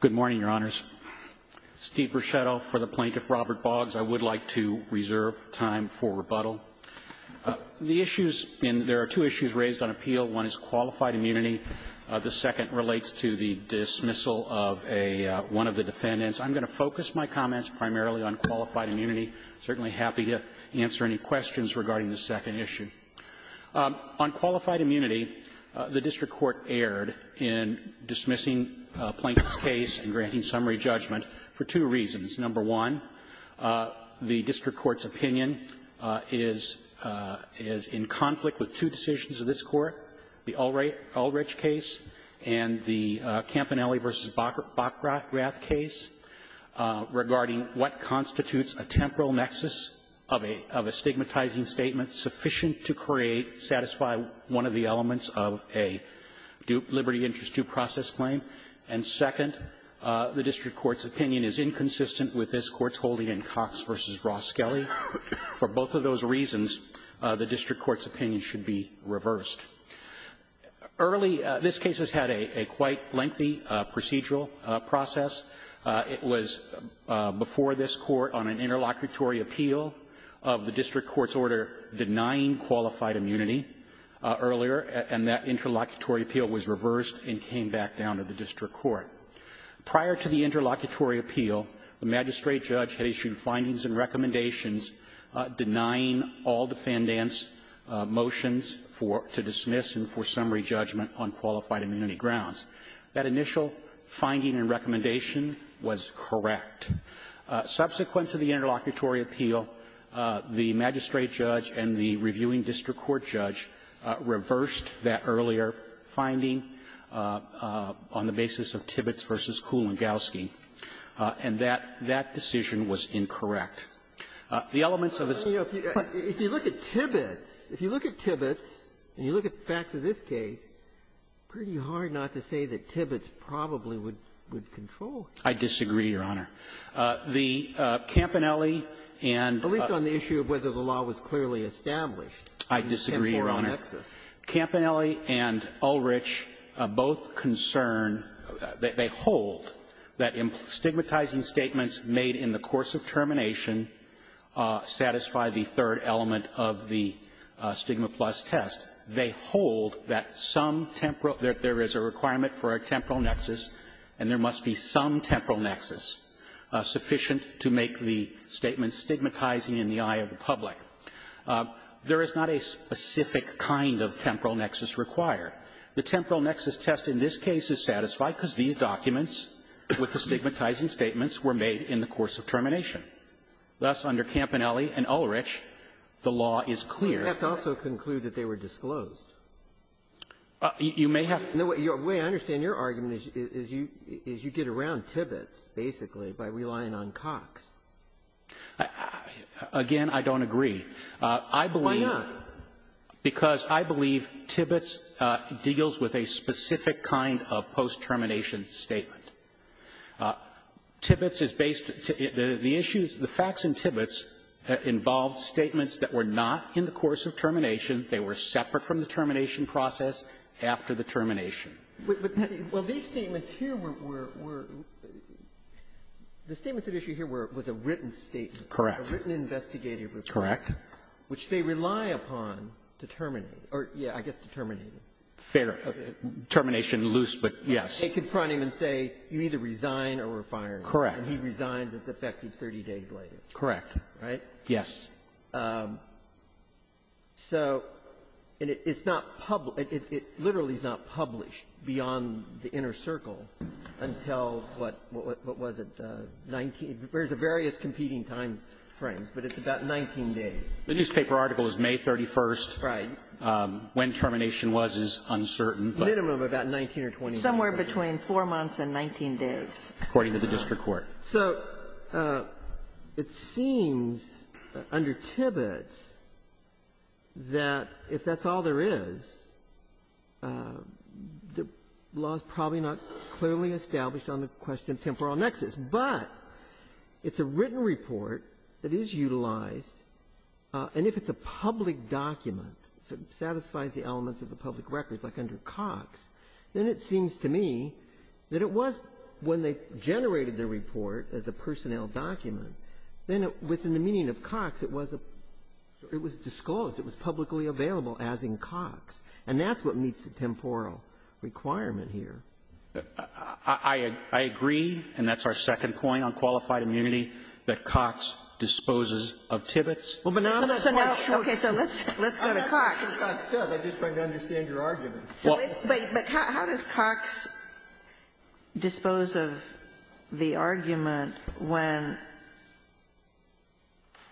Good morning, Your Honors. Steve Bruchetto for the Plaintiff Robert Boggs. I would like to reserve time for rebuttal. The issues in there are two issues raised on appeal. One is qualified immunity. The second relates to the dismissal of a one of the defendants. I'm going to focus my comments primarily on qualified immunity. I'm certainly happy to answer any questions regarding the second issue. On qualified immunity, the district court erred in dismissing Plaintiff's case as a dismissal case in granting summary judgment for two reasons. Number one, the district court's opinion is in conflict with two decisions of this Court, the Ulrich case and the Campanelli v. Bockrath case, regarding what constitutes a temporal nexus of a stigmatizing statement sufficient to create, satisfy one of the elements of a liberty interest due process claim. And second, the district court's opinion is inconsistent with this Court's holding in Cox v. Ross-Skelly. For both of those reasons, the district court's opinion should be reversed. Early this case has had a quite lengthy procedural process. It was before this Court on an interlocutory appeal of the district court's order denying qualified immunity earlier, and that interlocutory appeal was reversed and came back down to the district court. Prior to the interlocutory appeal, the magistrate judge had issued findings and recommendations denying all defendants' motions for to dismiss and for summary judgment on qualified immunity grounds. That initial finding and recommendation was correct. Subsequent to the interlocutory appeal, the magistrate judge and the reviewing district court judge reversed that of Tibbetts v. Kulangowski, and that decision was incorrect. The elements of this case are the same. Ginsburg. If you look at Tibbetts, if you look at Tibbetts and you look at the facts of this case, pretty hard not to say that Tibbetts probably would control it. I disagree, Your Honor. The Campanelli and the law was clearly established. I disagree, Your Honor. Campanelli and Ulrich both concern, they hold, that stigmatizing statements made in the course of termination satisfy the third element of the Stigma Plus test. They hold that some temporal, that there is a requirement for a temporal nexus, and there must be some temporal nexus sufficient to make the statement stigmatizing in the eye of the public. There is not a specific kind of temporal nexus required. The temporal nexus test in this case is satisfied because these documents with the stigmatizing statements were made in the course of termination. Thus, under Campanelli and Ulrich, the law is clear. You have to also conclude that they were disclosed. You may have to. The way I understand your argument is you get around Tibbetts, basically, by relying on Cox. Again, I don't agree. I believe the issues of the facts in Tibbetts involved statements that were not in the course of termination. They were separate from the termination process after the termination. Well, these statements here were the statements of issue here was a written statement. Correct. A written investigative report. Correct. Which they rely upon to terminate. Or, yeah, I guess to terminate him. Fair. Termination, loose, but yes. They confront him and say, you either resign or we're firing you. Correct. And he resigns. It's effective 30 days later. Correct. Right? Yes. So it's not published. It literally is not published beyond the inner circle until, what was it, 19? There's various competing timeframes, but it's about 19 days. The newspaper article is May 31st. Right. When termination was is uncertain. Minimum about 19 or 20 days. Somewhere between 4 months and 19 days. According to the district court. So it seems under Tibbets that if that's all there is, the law is probably not clearly established on the question of temporal nexus, but it's a written report that is utilized. And if it's a public document, if it satisfies the elements of the public records like under Cox, then it seems to me that it was when they generated the report as a personnel document, then within the meaning of Cox, it was a – it was disclosed. It was publicly available, as in Cox. And that's what meets the temporal requirement here. I agree, and that's our second point on qualified immunity, that Cox disposes of Tibbets. Well, but now – So now – okay. So let's go to Cox. I'm just trying to understand your argument. But how does Cox dispose of the argument when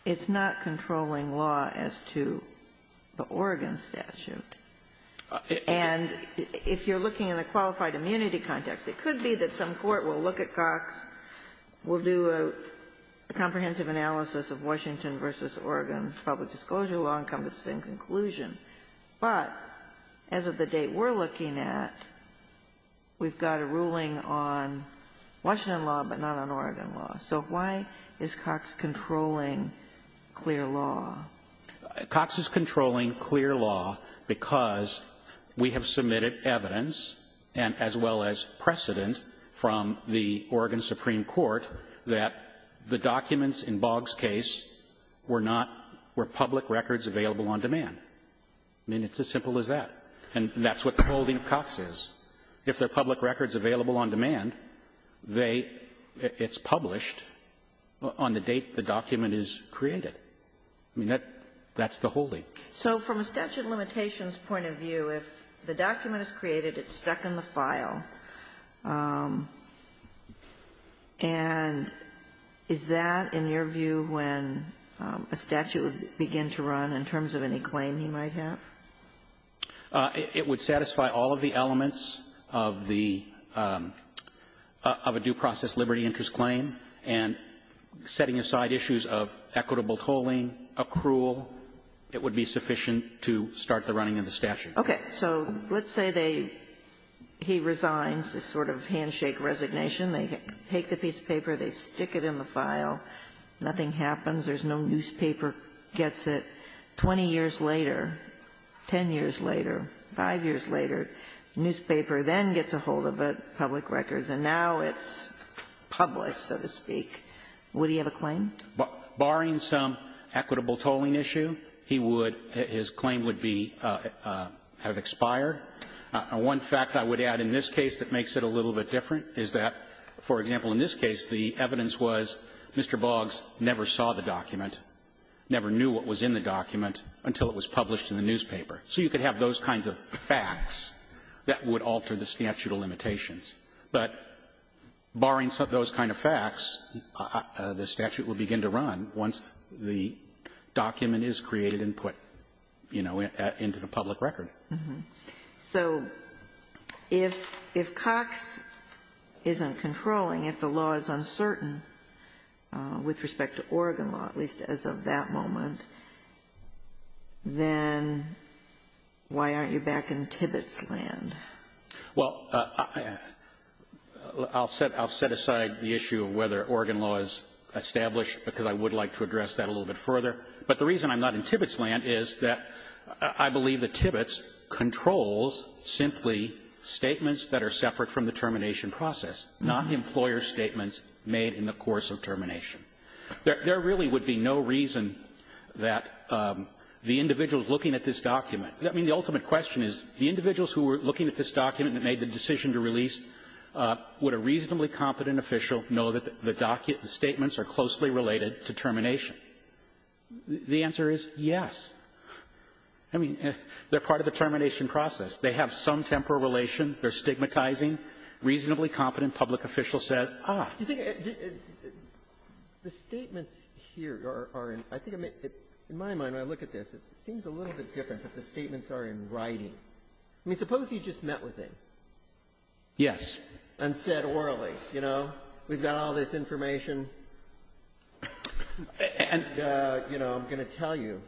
it's not controlling law as to the Oregon statute? And if you're looking in a qualified immunity context, it could be that some court will look at Cox, will do a comprehensive analysis of Washington v. Oregon public inclusion. But as of the date we're looking at, we've got a ruling on Washington law, but not on Oregon law. So why is Cox controlling clear law? Cox is controlling clear law because we have submitted evidence, and as well as precedent from the Oregon Supreme Court, that the documents in Boggs' case were not – were public records available on demand. I mean, it's as simple as that. And that's what the holding of Cox is. If they're public records available on demand, they – it's published on the date the document is created. I mean, that's the holding. So from a statute limitations point of view, if the document is created, it's stuck in the file. And is that, in your view, when a statute would begin to run, in terms of any claim he might have? It would satisfy all of the elements of the – of a due process liberty interest claim, and setting aside issues of equitable tolling, accrual, it would be sufficient to start the running of the statute. Okay. So let's say they – he resigns, this sort of handshake resignation. They take the piece of paper, they stick it in the file, nothing happens, there's no newspaper gets it. Twenty years later, ten years later, five years later, the newspaper then gets a hold of it, public records, and now it's public, so to speak. Would he have a claim? Barring some equitable tolling issue, he would – his claim would be – have expired. One fact I would add in this case that makes it a little bit different is that, for example, in this case, the evidence was Mr. Boggs never saw the document, never knew what was in the document until it was published in the newspaper. So you could have those kinds of facts that would alter the statute of limitations. But barring those kind of facts, the statute would begin to run once the document is created and put, you know, into the public record. So if – if Cox isn't controlling, if the law is uncertain with respect to Oregon law, at least as of that moment, then why aren't you back in Tibbetts' land? Well, I'll set – I'll set aside the issue of whether Oregon law is established because I would like to address that a little bit further. But the reason I'm not in Tibbetts' land is that I believe that Tibbetts' controls simply statements that are separate from the termination process, not employer statements made in the course of termination. There really would be no reason that the individuals looking at this document I mean, the ultimate question is, the individuals who were looking at this document and made the decision to release, would a reasonably competent official know that the document – the statements are closely related to termination? The answer is yes. I mean, they're part of the termination process. They have some temporal relation. They're stigmatizing. Reasonably competent public officials said, ah. Do you think – the statements here are in – I think in my mind when I look at this, it seems a little bit different, but the statements are in writing. I mean, suppose you just met with him. Yes. And said orally, you know, we've got all this information, and, you know, I'm going to tell you.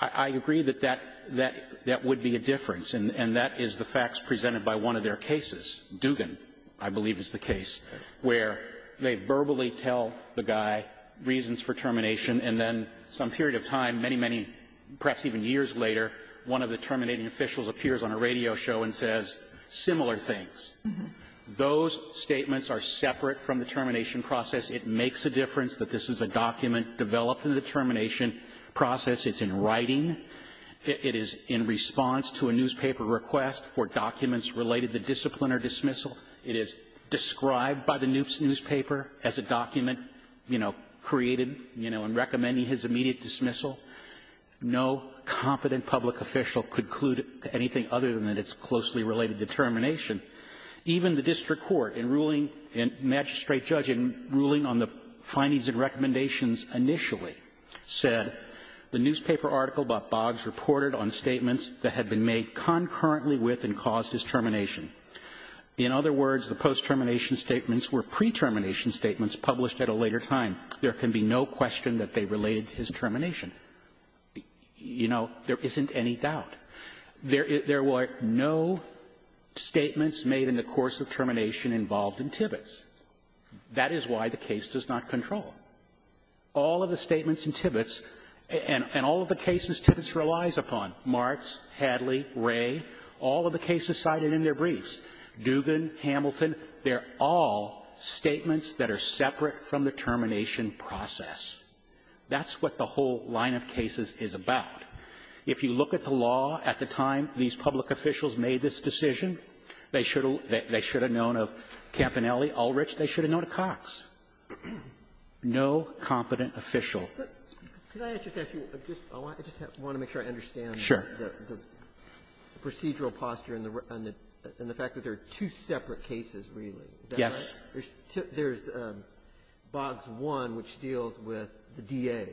I agree that that would be a difference, and that is the facts presented by one of their cases, Dugan, I believe is the case, where they verbally tell the guy reasons for termination, and then some period of time, many, many, perhaps even years later, one of the terminating officials appears on a radio show and says similar things. Those statements are separate from the termination process. It makes a difference that this is a document developed in the termination process. It's in writing. It is in response to a newspaper request for documents related to discipline or dismissal. It is described by the newspaper as a document, you know, created, you know, and recommending his immediate dismissal. No competent public official could clue to anything other than that it's closely related to termination. Even the district court in ruling – magistrate judge in ruling on the findings and recommendations initially said the newspaper article about Boggs reported on statements that had been made concurrently with and caused his termination. In other words, the post-termination statements were pre-termination statements published at a later time. There can be no question that they related to his termination. You know, there isn't any doubt. There were no statements made in the course of termination involved in Tibbets. That is why the case does not control. All of the statements in Tibbets, and all of the cases Tibbets relies upon, Martz, Hadley, Wray, all of the cases cited in their briefs, Dugan, Hamilton, they're all statements that are separate from the termination process. That's what the whole line of cases is about. If you look at the law at the time these public officials made this decision, they should have known of Campanelli, Ulrich. They should have known of Cox. No competent official. Sotomayor, could I just ask you, I just want to make sure I understand. Sure. The procedural posture and the fact that there are two separate cases, really. Yes. There's Boggs 1, which deals with the DA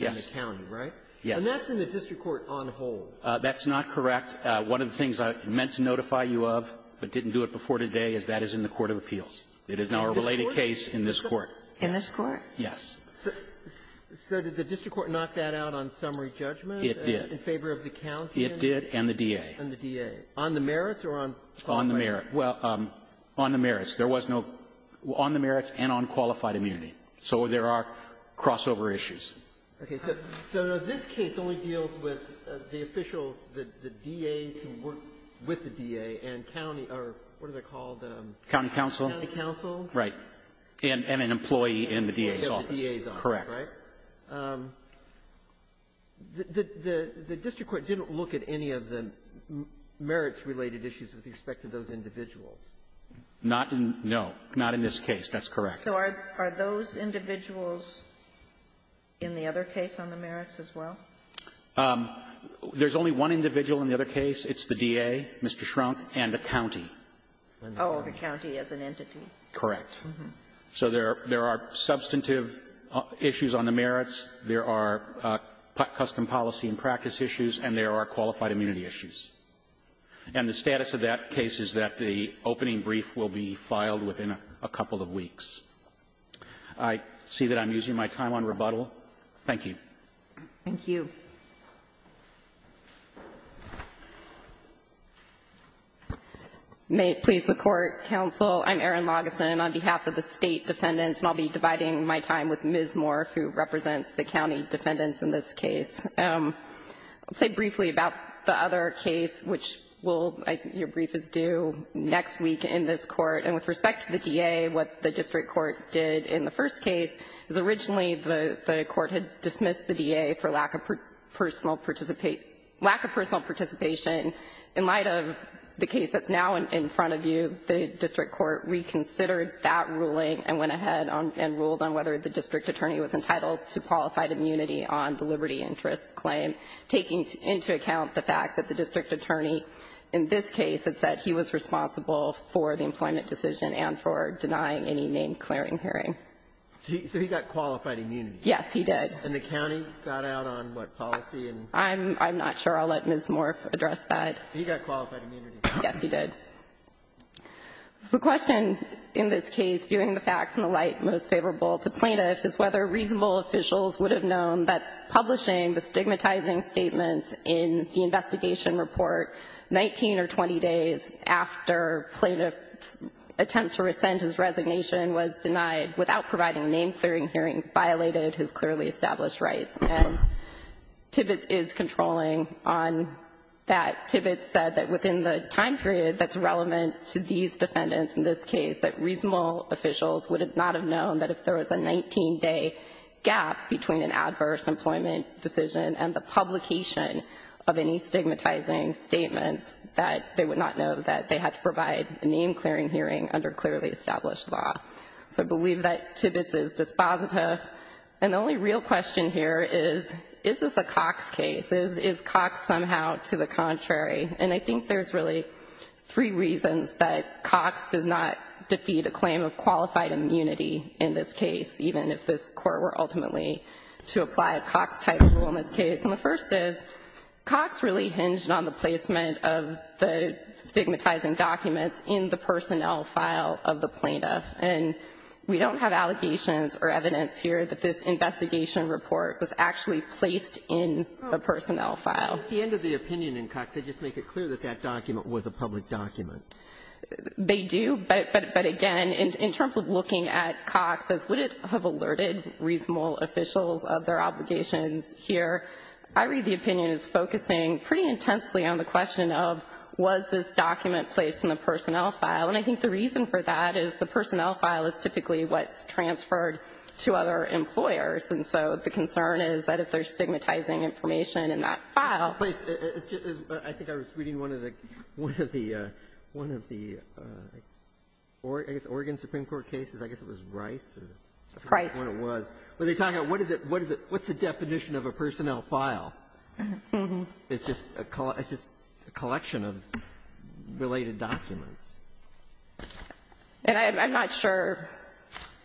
in the county, right? Yes. And that's in the district court on hold. That's not correct. One of the things I meant to notify you of, but didn't do it before today, is that is in the court of appeals. It is now a related case in this court. In this court? Yes. So did the district court knock that out on summary judgment? It did. In favor of the county? It did, and the DA. And the DA. On the merits or on the quality? Well, on the merits. There was no -- on the merits and on qualified immunity. So there are crossover issues. Okay. So this case only deals with the officials, the DAs who work with the DA and county or what are they called? County counsel. County counsel. Right. And an employee in the DA's office. DA's office. Correct. The district court didn't look at any of the merits-related issues with respect to those individuals. Not in the -- no. Not in this case. That's correct. So are those individuals in the other case on the merits as well? There's only one individual in the other case. It's the DA, Mr. Schrunk, and the county. Oh, the county as an entity. Correct. So there are substantive issues on the merits. There are custom policy and practice issues. And there are qualified immunity issues. And the status of that case is that the opening brief will be filed within a couple of weeks. I see that I'm using my time on rebuttal. Thank you. Thank you. May it please the Court, counsel, I'm Erin Lageson. On behalf of the state defendants, and I'll be dividing my time with Ms. Moore, who represents the county defendants in this case. I'll say briefly about the other case, which will, your brief is due next week in this court. And with respect to the DA, what the district court did in the first case is originally the court had dismissed the DA for lack of personal participation. In light of the case that's now in front of you, the district court reconsidered that ruling and went ahead and ruled on whether the district attorney was entitled to qualified immunity on the liberty interest claim, taking into account the fact that the district attorney in this case had said he was responsible for the employment decision and for denying any name-clearing hearing. So he got qualified immunity. Yes, he did. And the county got out on what policy? I'm not sure. I'll let Ms. Moore address that. He got qualified immunity. Yes, he did. The question in this case, viewing the facts in the light most favorable to plaintiffs, is whether reasonable officials would have known that publishing the stigmatizing statements in the investigation report 19 or 20 days after plaintiff's attempt to rescind his resignation was denied without providing name-clearing hearing violated his clearly established rights. And Tibbets is controlling on that. Tibbets said that within the time period that's relevant to these defendants in this case, that reasonable officials would not have known that if there was a 19-day gap between an adverse employment decision and the publication of any stigmatizing statements, that they would not know that they had to provide a name-clearing hearing under clearly established law. So I believe that Tibbets is dispositive. And the only real question here is, is this a Cox case? Is Cox somehow to the contrary? And I think there's really three reasons that Cox does not defeat a claim of qualified immunity in this case, even if this court were ultimately to apply a Cox-type rule in this case. And the first is, Cox really hinged on the placement of the stigmatizing documents in the personnel file of the plaintiff. And we don't have allegations or evidence here that this investigation report was actually placed in a personnel file. Ginsburg. At the end of the opinion in Cox, they just make it clear that that document was a public document. They do, but again, in terms of looking at Cox as would it have alerted reasonable officials of their obligations here, I read the opinion as focusing pretty intensely on the question of, was this document placed in the personnel file? And I think the reason for that is the personnel file is typically what's transferred to other employers. And so the concern is that if there's stigmatizing information in that file ---- It's just that I think I was reading one of the, one of the, one of the, I guess Oregon Supreme Court cases, I guess it was Rice or ---- Price. When it was, when they're talking about what is it, what is it, what's the definition of a personnel file? It's just a collection of related documents. And I'm not sure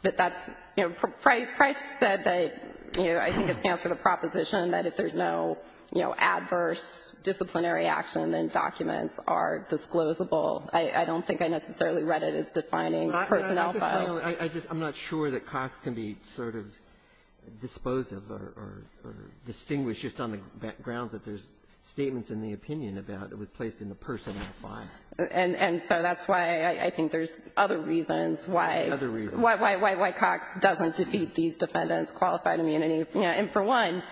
that that's, you know, Price said that, you know, I think it stands for the proposition that if there's no, you know, adverse disciplinary action, then documents are disclosable. I don't think I necessarily read it as defining personnel files. I'm not sure that Cox can be sort of disposed of or distinguished just on the grounds that there's statements in the opinion about it was placed in the personnel file. And so that's why I think there's other reasons why ---- Other reasons. Why, why, why, why Cox doesn't defeat these defendants' qualified immunity. And for one,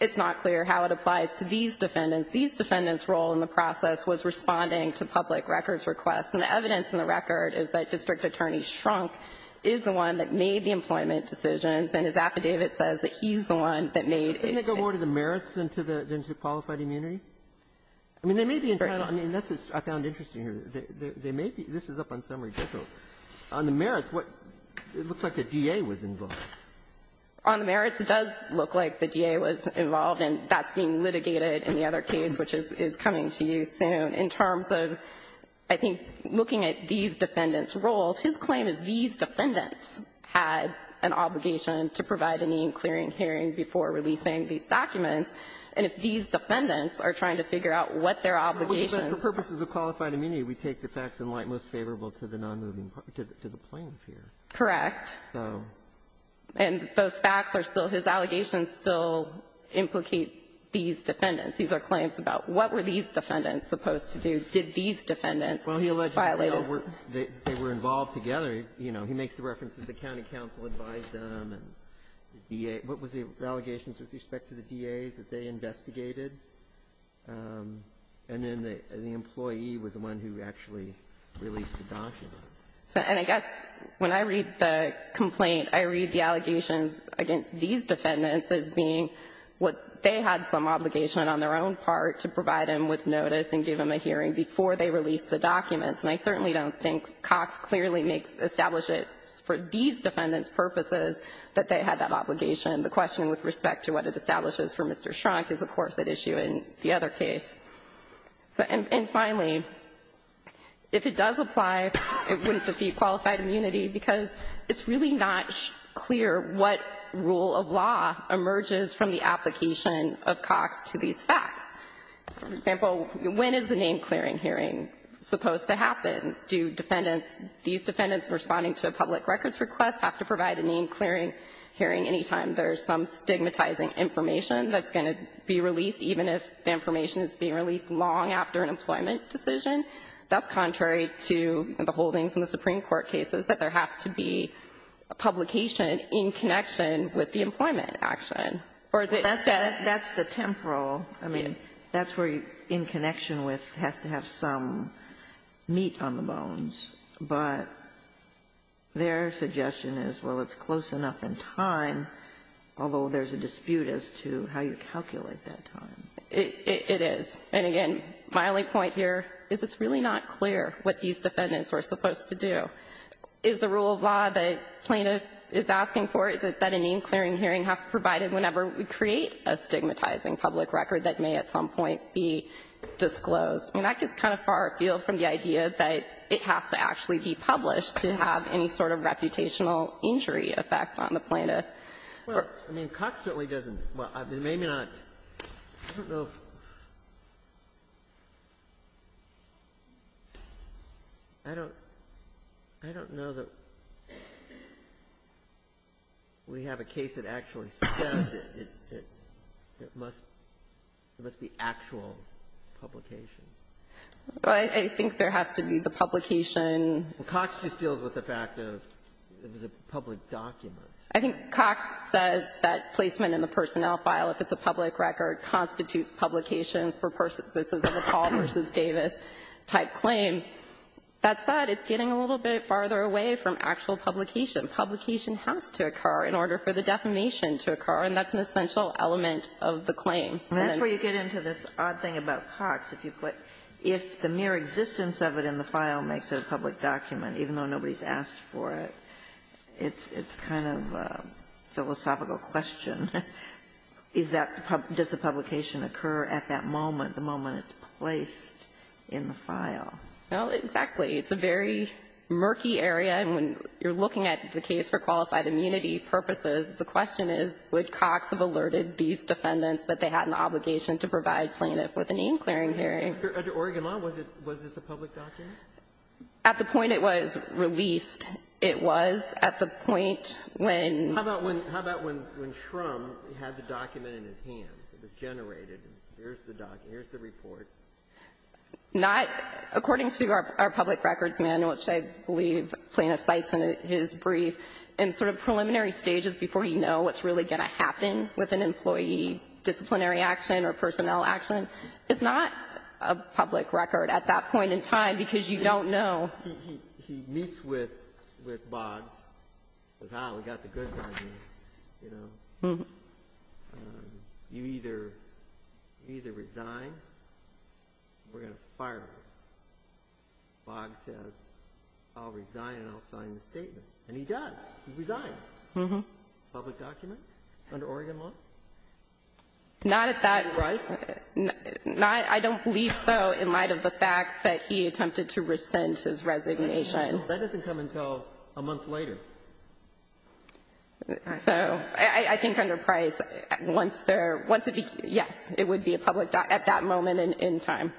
it's not clear how it applies to these defendants. These defendants' role in the process was responding to public records requests. And the evidence in the record is that District Attorney Shrunk is the one that made the employment decisions. And his affidavit says that he's the one that made ---- Doesn't it go more to the merits than to the qualified immunity? I mean, there may be internal ---- And that's what I found interesting here. There may be ---- this is up on summary detail. On the merits, what ---- it looks like the D.A. was involved. On the merits, it does look like the D.A. was involved, and that's being litigated in the other case, which is coming to you soon. In terms of, I think, looking at these defendants' roles, his claim is these defendants had an obligation to provide a name-clearing hearing before releasing these documents. And if these defendants are trying to figure out what their obligations ---- But for purposes of qualified immunity, we take the facts in light most favorable to the nonmoving part, to the plain fear. Correct. So ---- And those facts are still his allegations still implicate these defendants. These are claims about what were these defendants supposed to do? Did these defendants violate his ---- Well, he alleged they were involved together. You know, he makes the reference that the county counsel advised them and the D.A. What was the allegations with respect to the D.A.s that they investigated? And then the employee was the one who actually released the documents. And I guess when I read the complaint, I read the allegations against these defendants as being what they had some obligation on their own part to provide him with notice and give him a hearing before they released the documents. And I certainly don't think Cox clearly makes ---- established it for these defendants' purposes that they had that obligation. The question with respect to what it establishes for Mr. Schrunk is, of course, at issue in the other case. And finally, if it does apply, it wouldn't defeat qualified immunity because it's really not clear what rule of law emerges from the application of Cox to these facts. For example, when is the name-clearing hearing supposed to happen? Do defendants, these defendants responding to a public records request, have to provide a name-clearing hearing any time there's some stigmatizing information that's going to be released, even if the information is being released long after an employment decision? That's contrary to the holdings in the Supreme Court cases, that there has to be a publication in connection with the employment action. Or is it instead of ---- Ginsburg. That's the temporal ---- But their suggestion is, well, it's close enough in time, although there's a dispute as to how you calculate that time. It is. And again, my only point here is it's really not clear what these defendants were supposed to do. Is the rule of law that plaintiff is asking for, is it that a name-clearing hearing has to be provided whenever we create a stigmatizing public record that may at some point be disclosed? I mean, that gets kind of far afield from the idea that it has to actually be published to have any sort of reputational injury effect on the plaintiff. Well, I mean, Cox certainly doesn't ---- well, maybe not. I don't know if ---- I don't know that we have a case that actually says it, it must be actual publication. Well, I think there has to be the publication ---- Well, Cox just deals with the fact of it was a public document. I think Cox says that placement in the personnel file, if it's a public record, constitutes publication for persons of the Paul v. Davis-type claim. That said, it's getting a little bit farther away from actual publication. Publication has to occur in order for the defamation to occur, and that's an essential element of the claim. And that's where you get into this odd thing about Cox. If you put ---- if the mere existence of it in the file makes it a public document, even though nobody's asked for it, it's kind of a philosophical question. Is that the public ---- does the publication occur at that moment, the moment it's placed in the file? No, exactly. It's a very murky area, and when you're looking at the case for qualified immunity purposes, the question is, would Cox have alerted these defendants that they had an obligation to provide plaintiff with a name-clearing hearing? Under Oregon law, was it ---- was this a public document? At the point it was released, it was. At the point when ---- How about when ---- how about when Schrum had the document in his hands? It was generated, and here's the document, here's the report. Not ---- according to our public records manual, which I believe plaintiff cites in his brief, in sort of preliminary stages before you know what's really going to happen with an employee, disciplinary action or personnel action, it's not a public record at that point in time because you don't know. He meets with Boggs, says, ah, we've got the goods on you, you know. You either resign or we're going to fire you. Boggs says, I'll resign and I'll sign the statement. And he does. He resigns. Public document under Oregon law? Not at that ---- Price? Not ---- I don't believe so in light of the fact that he attempted to rescind his resignation. That doesn't come until a month later. So I think under Price, once there ---- once it became ---- yes, it would be a public document at that moment in time,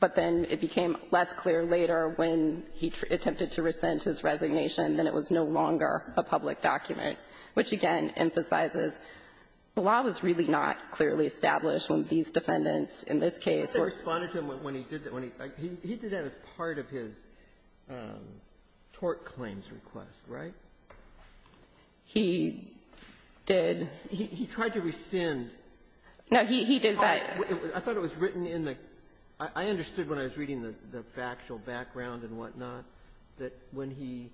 but then it became less clear later when he attempted to rescind his resignation that it was no longer a public document, which, again, emphasizes the law was really not clearly established when these defendants in this case were ---- He responded to him when he did that. He did that as part of his tort claims request, right? He did. He tried to rescind. No, he did that. I thought it was written in the ---- I understood when I was reading the factual background and whatnot that when he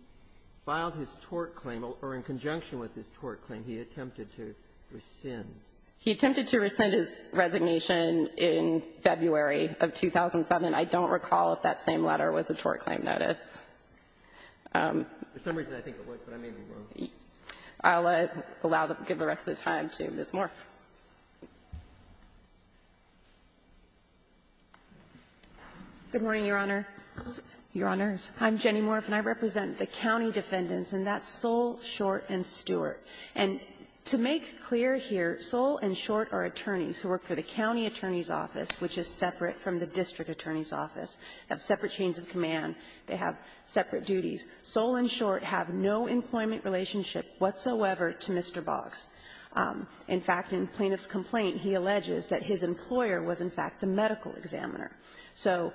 filed his tort claim or in conjunction with his tort claim, he attempted to rescind. He attempted to rescind his resignation in February of 2007. I don't recall if that same letter was a tort claim notice. For some reason, I think it was, but I may be wrong. I'll allow the ---- give the rest of the time to Ms. Moore. Moore. Good morning, Your Honor. Your Honors, I'm Jenny Moore, and I represent the county defendants, and that's Soule, Short, and Stewart. And to make clear here, Soule and Short are attorneys who work for the county attorney's office, which is separate from the district attorney's office. They have separate chains of command. They have separate duties. Soule and Short have no employment relationship whatsoever to Mr. Boggs. In fact, in Plaintiff's complaint, he alleges that his employer was, in fact, the medical examiner. So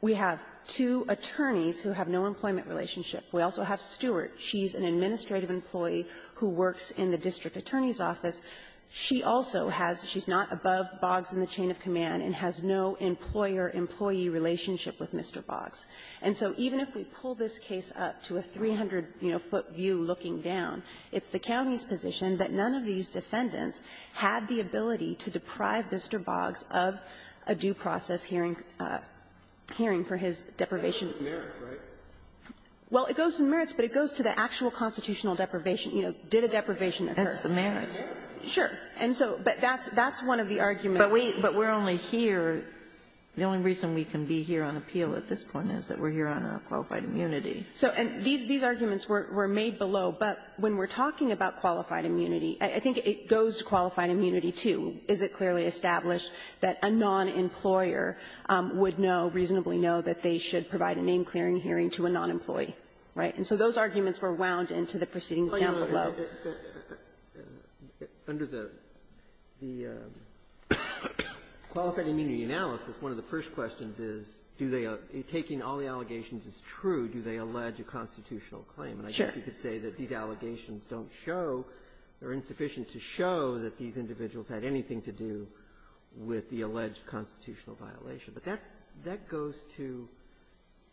we have two attorneys who have no employment relationship. We also have Stewart. She's an administrative employee who works in the district attorney's office. She also has ---- she's not above Boggs in the chain of command and has no employer-employee relationship with Mr. Boggs. And so even if we pull this case up to a 300-foot view looking down, it's the county's position that none of these defendants had the ability to deprive Mr. Boggs of a due process hearing for his deprivation. Kennedy, it goes to the merits, right? Well, it goes to the merits, but it goes to the actual constitutional deprivation. You know, did a deprivation occur? That's the merits. Sure. And so that's one of the arguments. But we're only here the only reason we can be here on appeal at this point is that we're here on our qualified immunity. So these arguments were made below, but when we're talking about qualified immunity, I think it goes to qualified immunity, too. Is it clearly established that a non-employer would know, reasonably know, that they should provide a name-clearing hearing to a non-employee, right? And so those arguments were wound into the proceedings down below. Under the qualified immunity analysis, one of the first questions is, do they ---- taking all the allegations as true, do they allege a constitutional claim? And I guess you could say that these allegations don't show, they're insufficient to show that these individuals had anything to do with the alleged constitutional violation. But that goes to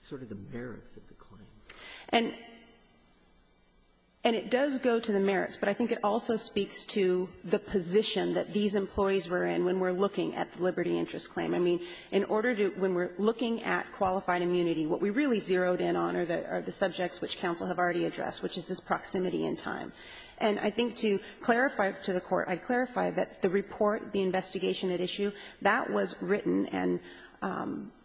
sort of the merits of the claim. And it does go to the merits, but I think it also speaks to the position that these employees were in when we're looking at the Liberty Interest Claim. I mean, in order to do ---- when we're looking at qualified immunity, what we really zeroed in on are the subjects which counsel have already addressed, which is this proximity in time. And I think to clarify to the Court, I clarify that the report, the investigation at issue, that was written and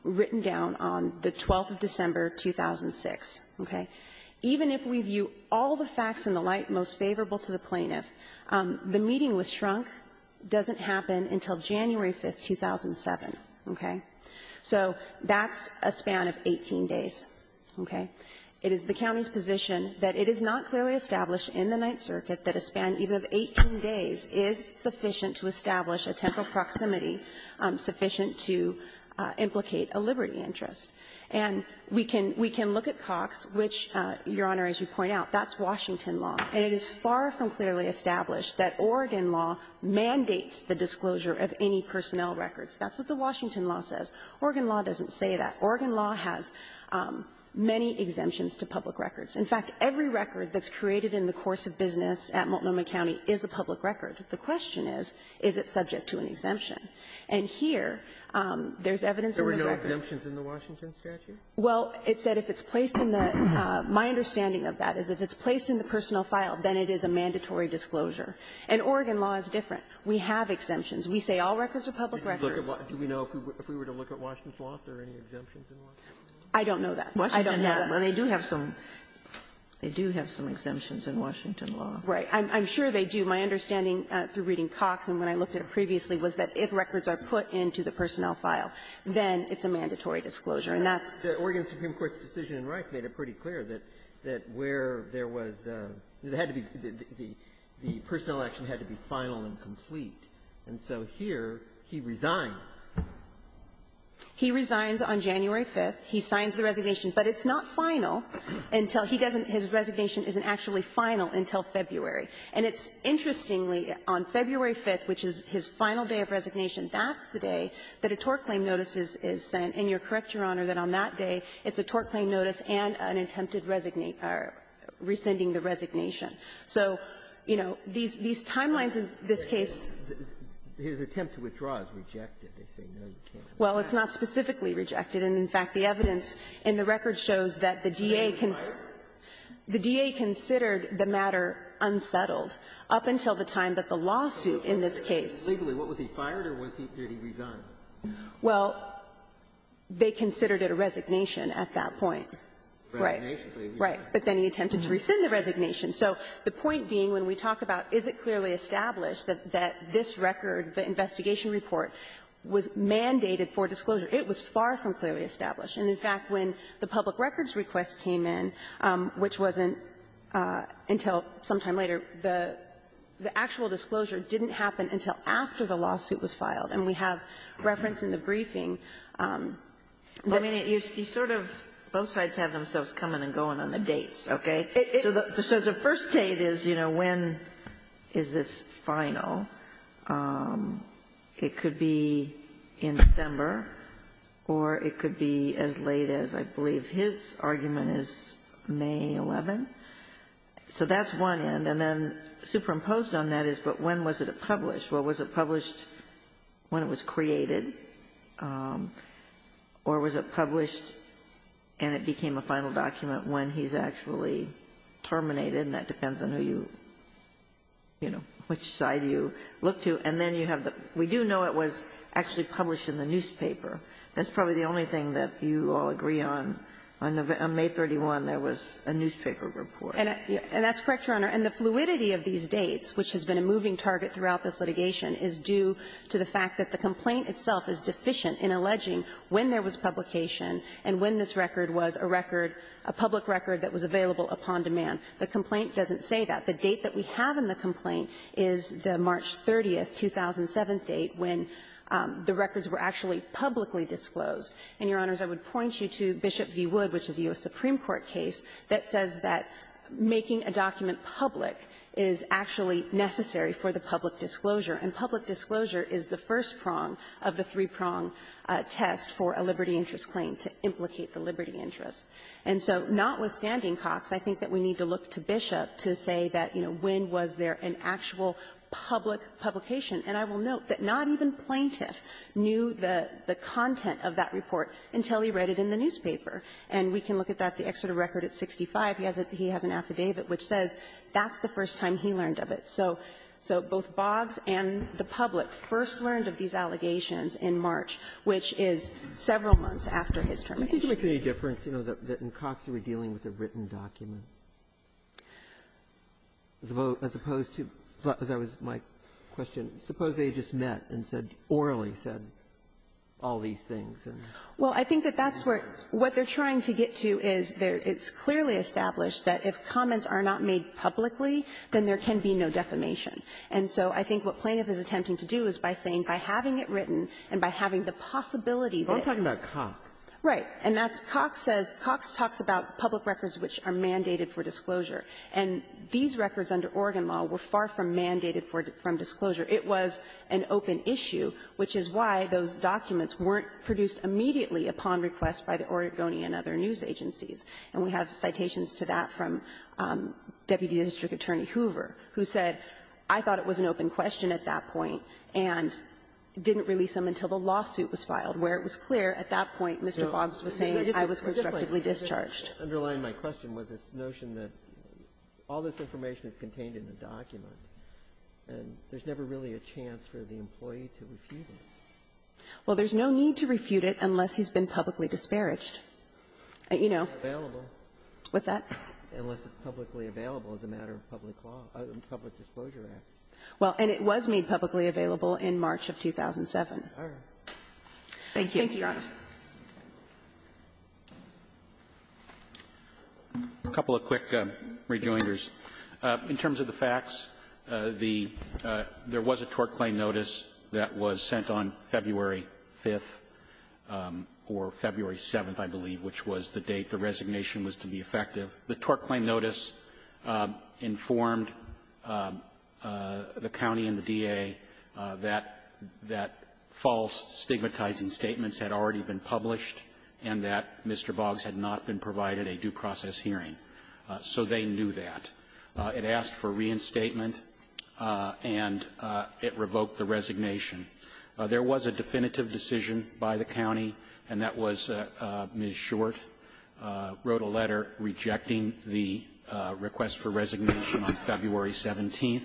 written down on the 12th of December, 2006, okay? Even if we view all the facts and the like most favorable to the plaintiff, the meeting with Schrunk doesn't happen until January 5th, 2007, okay? So that's a span of 18 days, okay? It is the county's position that it is not clearly established in the Ninth Circuit that a span even of 18 days is sufficient to establish a temporal proximity sufficient to implicate a liberty interest. And we can look at Cox, which, Your Honor, as you point out, that's Washington law. And it is far from clearly established that Oregon law mandates the disclosure of any personnel records. That's what the Washington law says. Oregon law doesn't say that. Oregon law has many exemptions to public records. In fact, every record that's created in the course of business at Multnomah County is a public record. The question is, is it subject to an exemption? And here, there's evidence in the record that the law says it's subject to an exemption. Robertson, there were no exemptions in the Washington statute? Well, it said if it's placed in the ---- my understanding of that is if it's placed in the personnel file, then it is a mandatory disclosure. And Oregon law is different. We have exemptions. We say all records are public records. Do we know if we were to look at Washington's law, if there are any exemptions in Washington law? I don't know that. I don't know that. Well, they do have some they do have some exemptions in Washington law. Right. I'm sure they do. My understanding through reading Cox and when I looked at it previously was that if records are put into the personnel file, then it's a mandatory disclosure. And that's the Oregon Supreme Court's decision in Rice made it pretty clear that where there was the personnel action had to be final and complete. And so here, he resigns. He resigns on January 5th. He signs the resignation. But it's not final until he doesn't his resignation isn't actually final until February. And it's interestingly, on February 5th, which is his final day of resignation, that's the day that a tort claim notice is sent. And you're correct, Your Honor, that on that day, it's a tort claim notice and an attempted resignation or rescinding the resignation. So, you know, these timelines in this case His attempt to withdraw is rejected. They say, no, you can't. Well, it's not specifically rejected. And, in fact, the evidence in the record shows that the D.A. The D.A. considered the matter unsettled up until the time that the lawsuit in this case What was he fired or did he resign? Well, they considered it a resignation at that point. Right. Right. But then he attempted to rescind the resignation. So the point being, when we talk about is it clearly established that this record, the investigation report, was mandated for disclosure, it was far from clearly established. And, in fact, when the public records request came in, which wasn't until sometime later, the actual disclosure didn't happen until after the lawsuit was filed. And we have reference in the briefing that's You sort of both sides have themselves coming and going on the dates, okay? So the first date is, you know, when is this final? It could be in December or it could be as late as I believe his argument is May 11th. So that's one end. And then superimposed on that is, but when was it published? Well, was it published when it was created or was it published and it became a final document when he's actually terminated? And that depends on who you, you know, which side you look to. And then you have the We do know it was actually published in the newspaper. That's probably the only thing that you all agree on. On May 31, there was a newspaper report. And that's correct, Your Honor. And the fluidity of these dates, which has been a moving target throughout this litigation, is due to the fact that the complaint itself is deficient in alleging when there was publication and when this record was a record, a public record that was available upon demand. The complaint doesn't say that. The date that we have in the complaint is the March 30, 2007 date when the records were actually publicly disclosed. And, Your Honors, I would point you to Bishop v. Wood, which is a U.S. Supreme Court case that says that making a document public is actually necessary for the public disclosure, and public disclosure is the first prong of the three-prong test for a liberty interest claim to implicate the liberty interest. And so, notwithstanding Cox, I think that we need to look to Bishop to say that, you know, when was there an actual public publication. And I will note that not even Plaintiff knew the content of that report until he read it in the newspaper. And we can look at that, the excerpt of record at 65. He has an affidavit which says that's the first time he learned of it. So both Boggs and the public first learned of these allegations in March, which is several months after his termination. Ginsburg. Do you think it makes any difference, you know, that in Cox, you were dealing with a written document, as opposed to, as I was, my question, suppose they had just met and said, orally said all these things? Well, I think that that's where what they're trying to get to is it's clearly established that if comments are not made publicly, then there can be no defamation. And so I think what Plaintiff is attempting to do is by saying, by having it written and by having the possibility that it was. But I'm talking about Cox. Right. And that's Cox says, Cox talks about public records which are mandated for disclosure. And these records under Oregon law were far from mandated from disclosure. It was an open issue, which is why those documents weren't produced immediately upon request by the Oregonian and other news agencies. And we have citations to that from Deputy District Attorney Hoover, who said, I thought it was an open question at that point and didn't release them until the lawsuit was filed, where it was clear at that point Mr. Boggs was saying I was constructively discharged. Underlying my question was this notion that all this information is contained in the document. And there's never really a chance for the employee to refute it. Well, there's no need to refute it unless he's been publicly disparaged. Unless it's publicly available. What's that? Unless it's publicly available as a matter of public law, public disclosure acts. Well, and it was made publicly available in March of 2007. All right. Thank you, Your Honor. Thank you. A couple of quick rejoinders. In terms of the facts, the — there was a tort claim notice that was sent on February 5th or February 7th, I believe, which was the date the resignation was to be effective. The tort claim notice informed the county and the DA that — that false stigmatizing statements had already been published and that Mr. Boggs had not been provided a due process hearing. So they knew that. It asked for reinstatement, and it revoked the resignation. There was a definitive decision by the county, and that was Ms. Short wrote a letter rejecting the request for resignation on February 17th,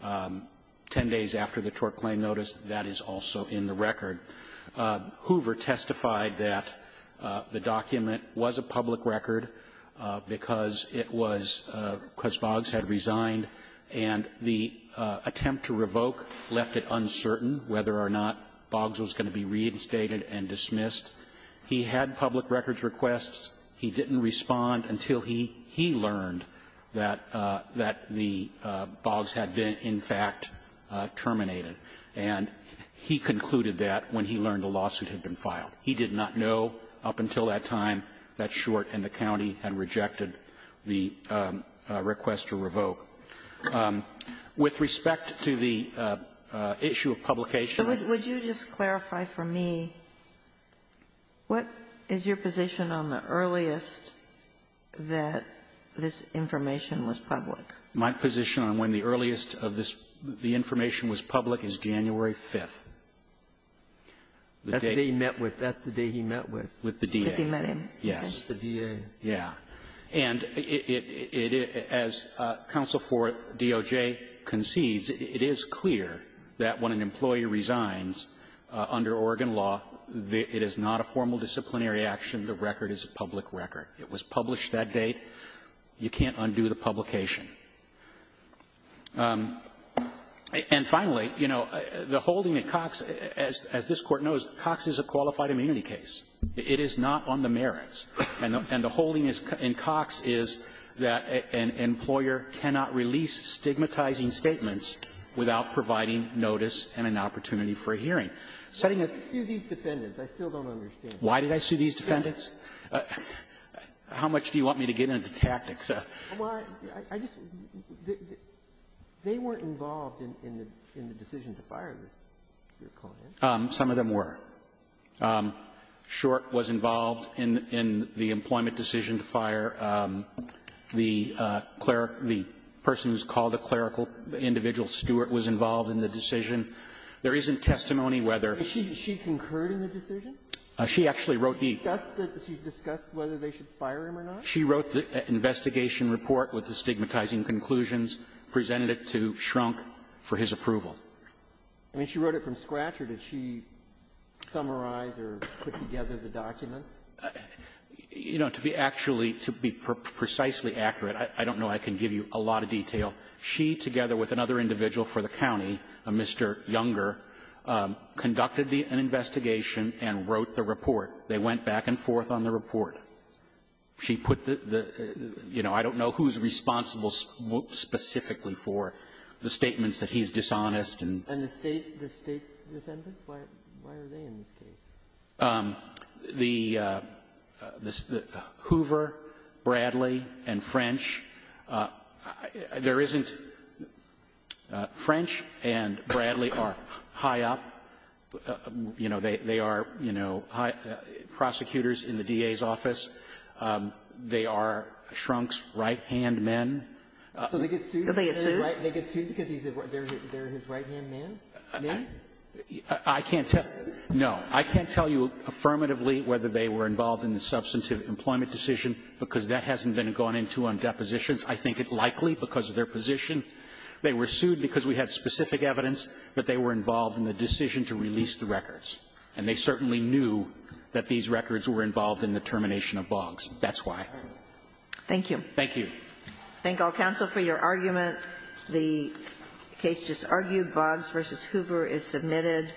10 days after the tort claim notice. That is also in the record. Hoover testified that the document was a public record because it was — because Boggs had resigned, and the attempt to revoke left it uncertain whether or not Boggs was going to be reinstated and dismissed. He had public records requests. He didn't respond until he — he learned that — that the — Boggs had been, in fact, terminated. And he concluded that when he learned the lawsuit had been filed. He did not know up until that time that Short and the county had rejected the request to revoke. With respect to the issue of publication — Ginsburg. Would you just clarify for me, what is your position on the earliest that this information was public? My position on when the earliest of this — the information was public is January 5th. That's the day he met with. That's the day he met with. With the DA. With the men in. Yes. With the DA. Yeah. And it — as counsel for DOJ concedes, it is clear that when an employee resigns under Oregon law, it is not a formal disciplinary action. The record is a public record. It was published that date. You can't undo the publication. And finally, you know, the holding at Cox, as this Court knows, Cox is a qualified immunity case. It is not on the merits. And the holding in Cox is that an employer cannot release stigmatizing statements without providing notice and an opportunity for a hearing. Setting a — You sued these defendants. I still don't understand. Why did I sue these defendants? How much do you want me to get into tactics? Well, I just — they weren't involved in the decision to fire this client. Some of them were. Short was involved in the employment decision to fire the cleric — the person who's called the clerical individual, Stewart, was involved in the decision. There isn't testimony whether — Is she concurring the decision? She actually wrote the — She discussed whether they should fire him or not? She wrote the investigation report with the stigmatizing conclusions, presented it to Schrunk for his approval. I mean, she wrote it from scratch, or did she summarize or put together the documents? You know, to be actually — to be precisely accurate, I don't know I can give you a lot of detail. She, together with another individual for the county, a Mr. Younger, conducted an investigation and wrote the report. They went back and forth on the report. She put the — you know, I don't know who's responsible specifically for the statements that he's dishonest and — And the State — the State defendants? Why are they in this case? The — Hoover, Bradley, and French, there isn't — French and Bradley are high up. You know, they are, you know, prosecutors in the DA's office. They are Schrunk's right-hand men. So they get sued? So they get sued? They get sued because they're his right-hand men? I can't tell — no. I can't tell you affirmatively whether they were involved in the substantive employment decision, because that hasn't been gone into on depositions. I think it likely because of their position. They were sued because we had specific evidence that they were involved in the decision to release the records. And they certainly knew that these records were involved in the termination of Boggs. That's why. Thank you. Thank you. Thank all counsel for your argument. The case just argued. Boggs v. Hoover is submitted.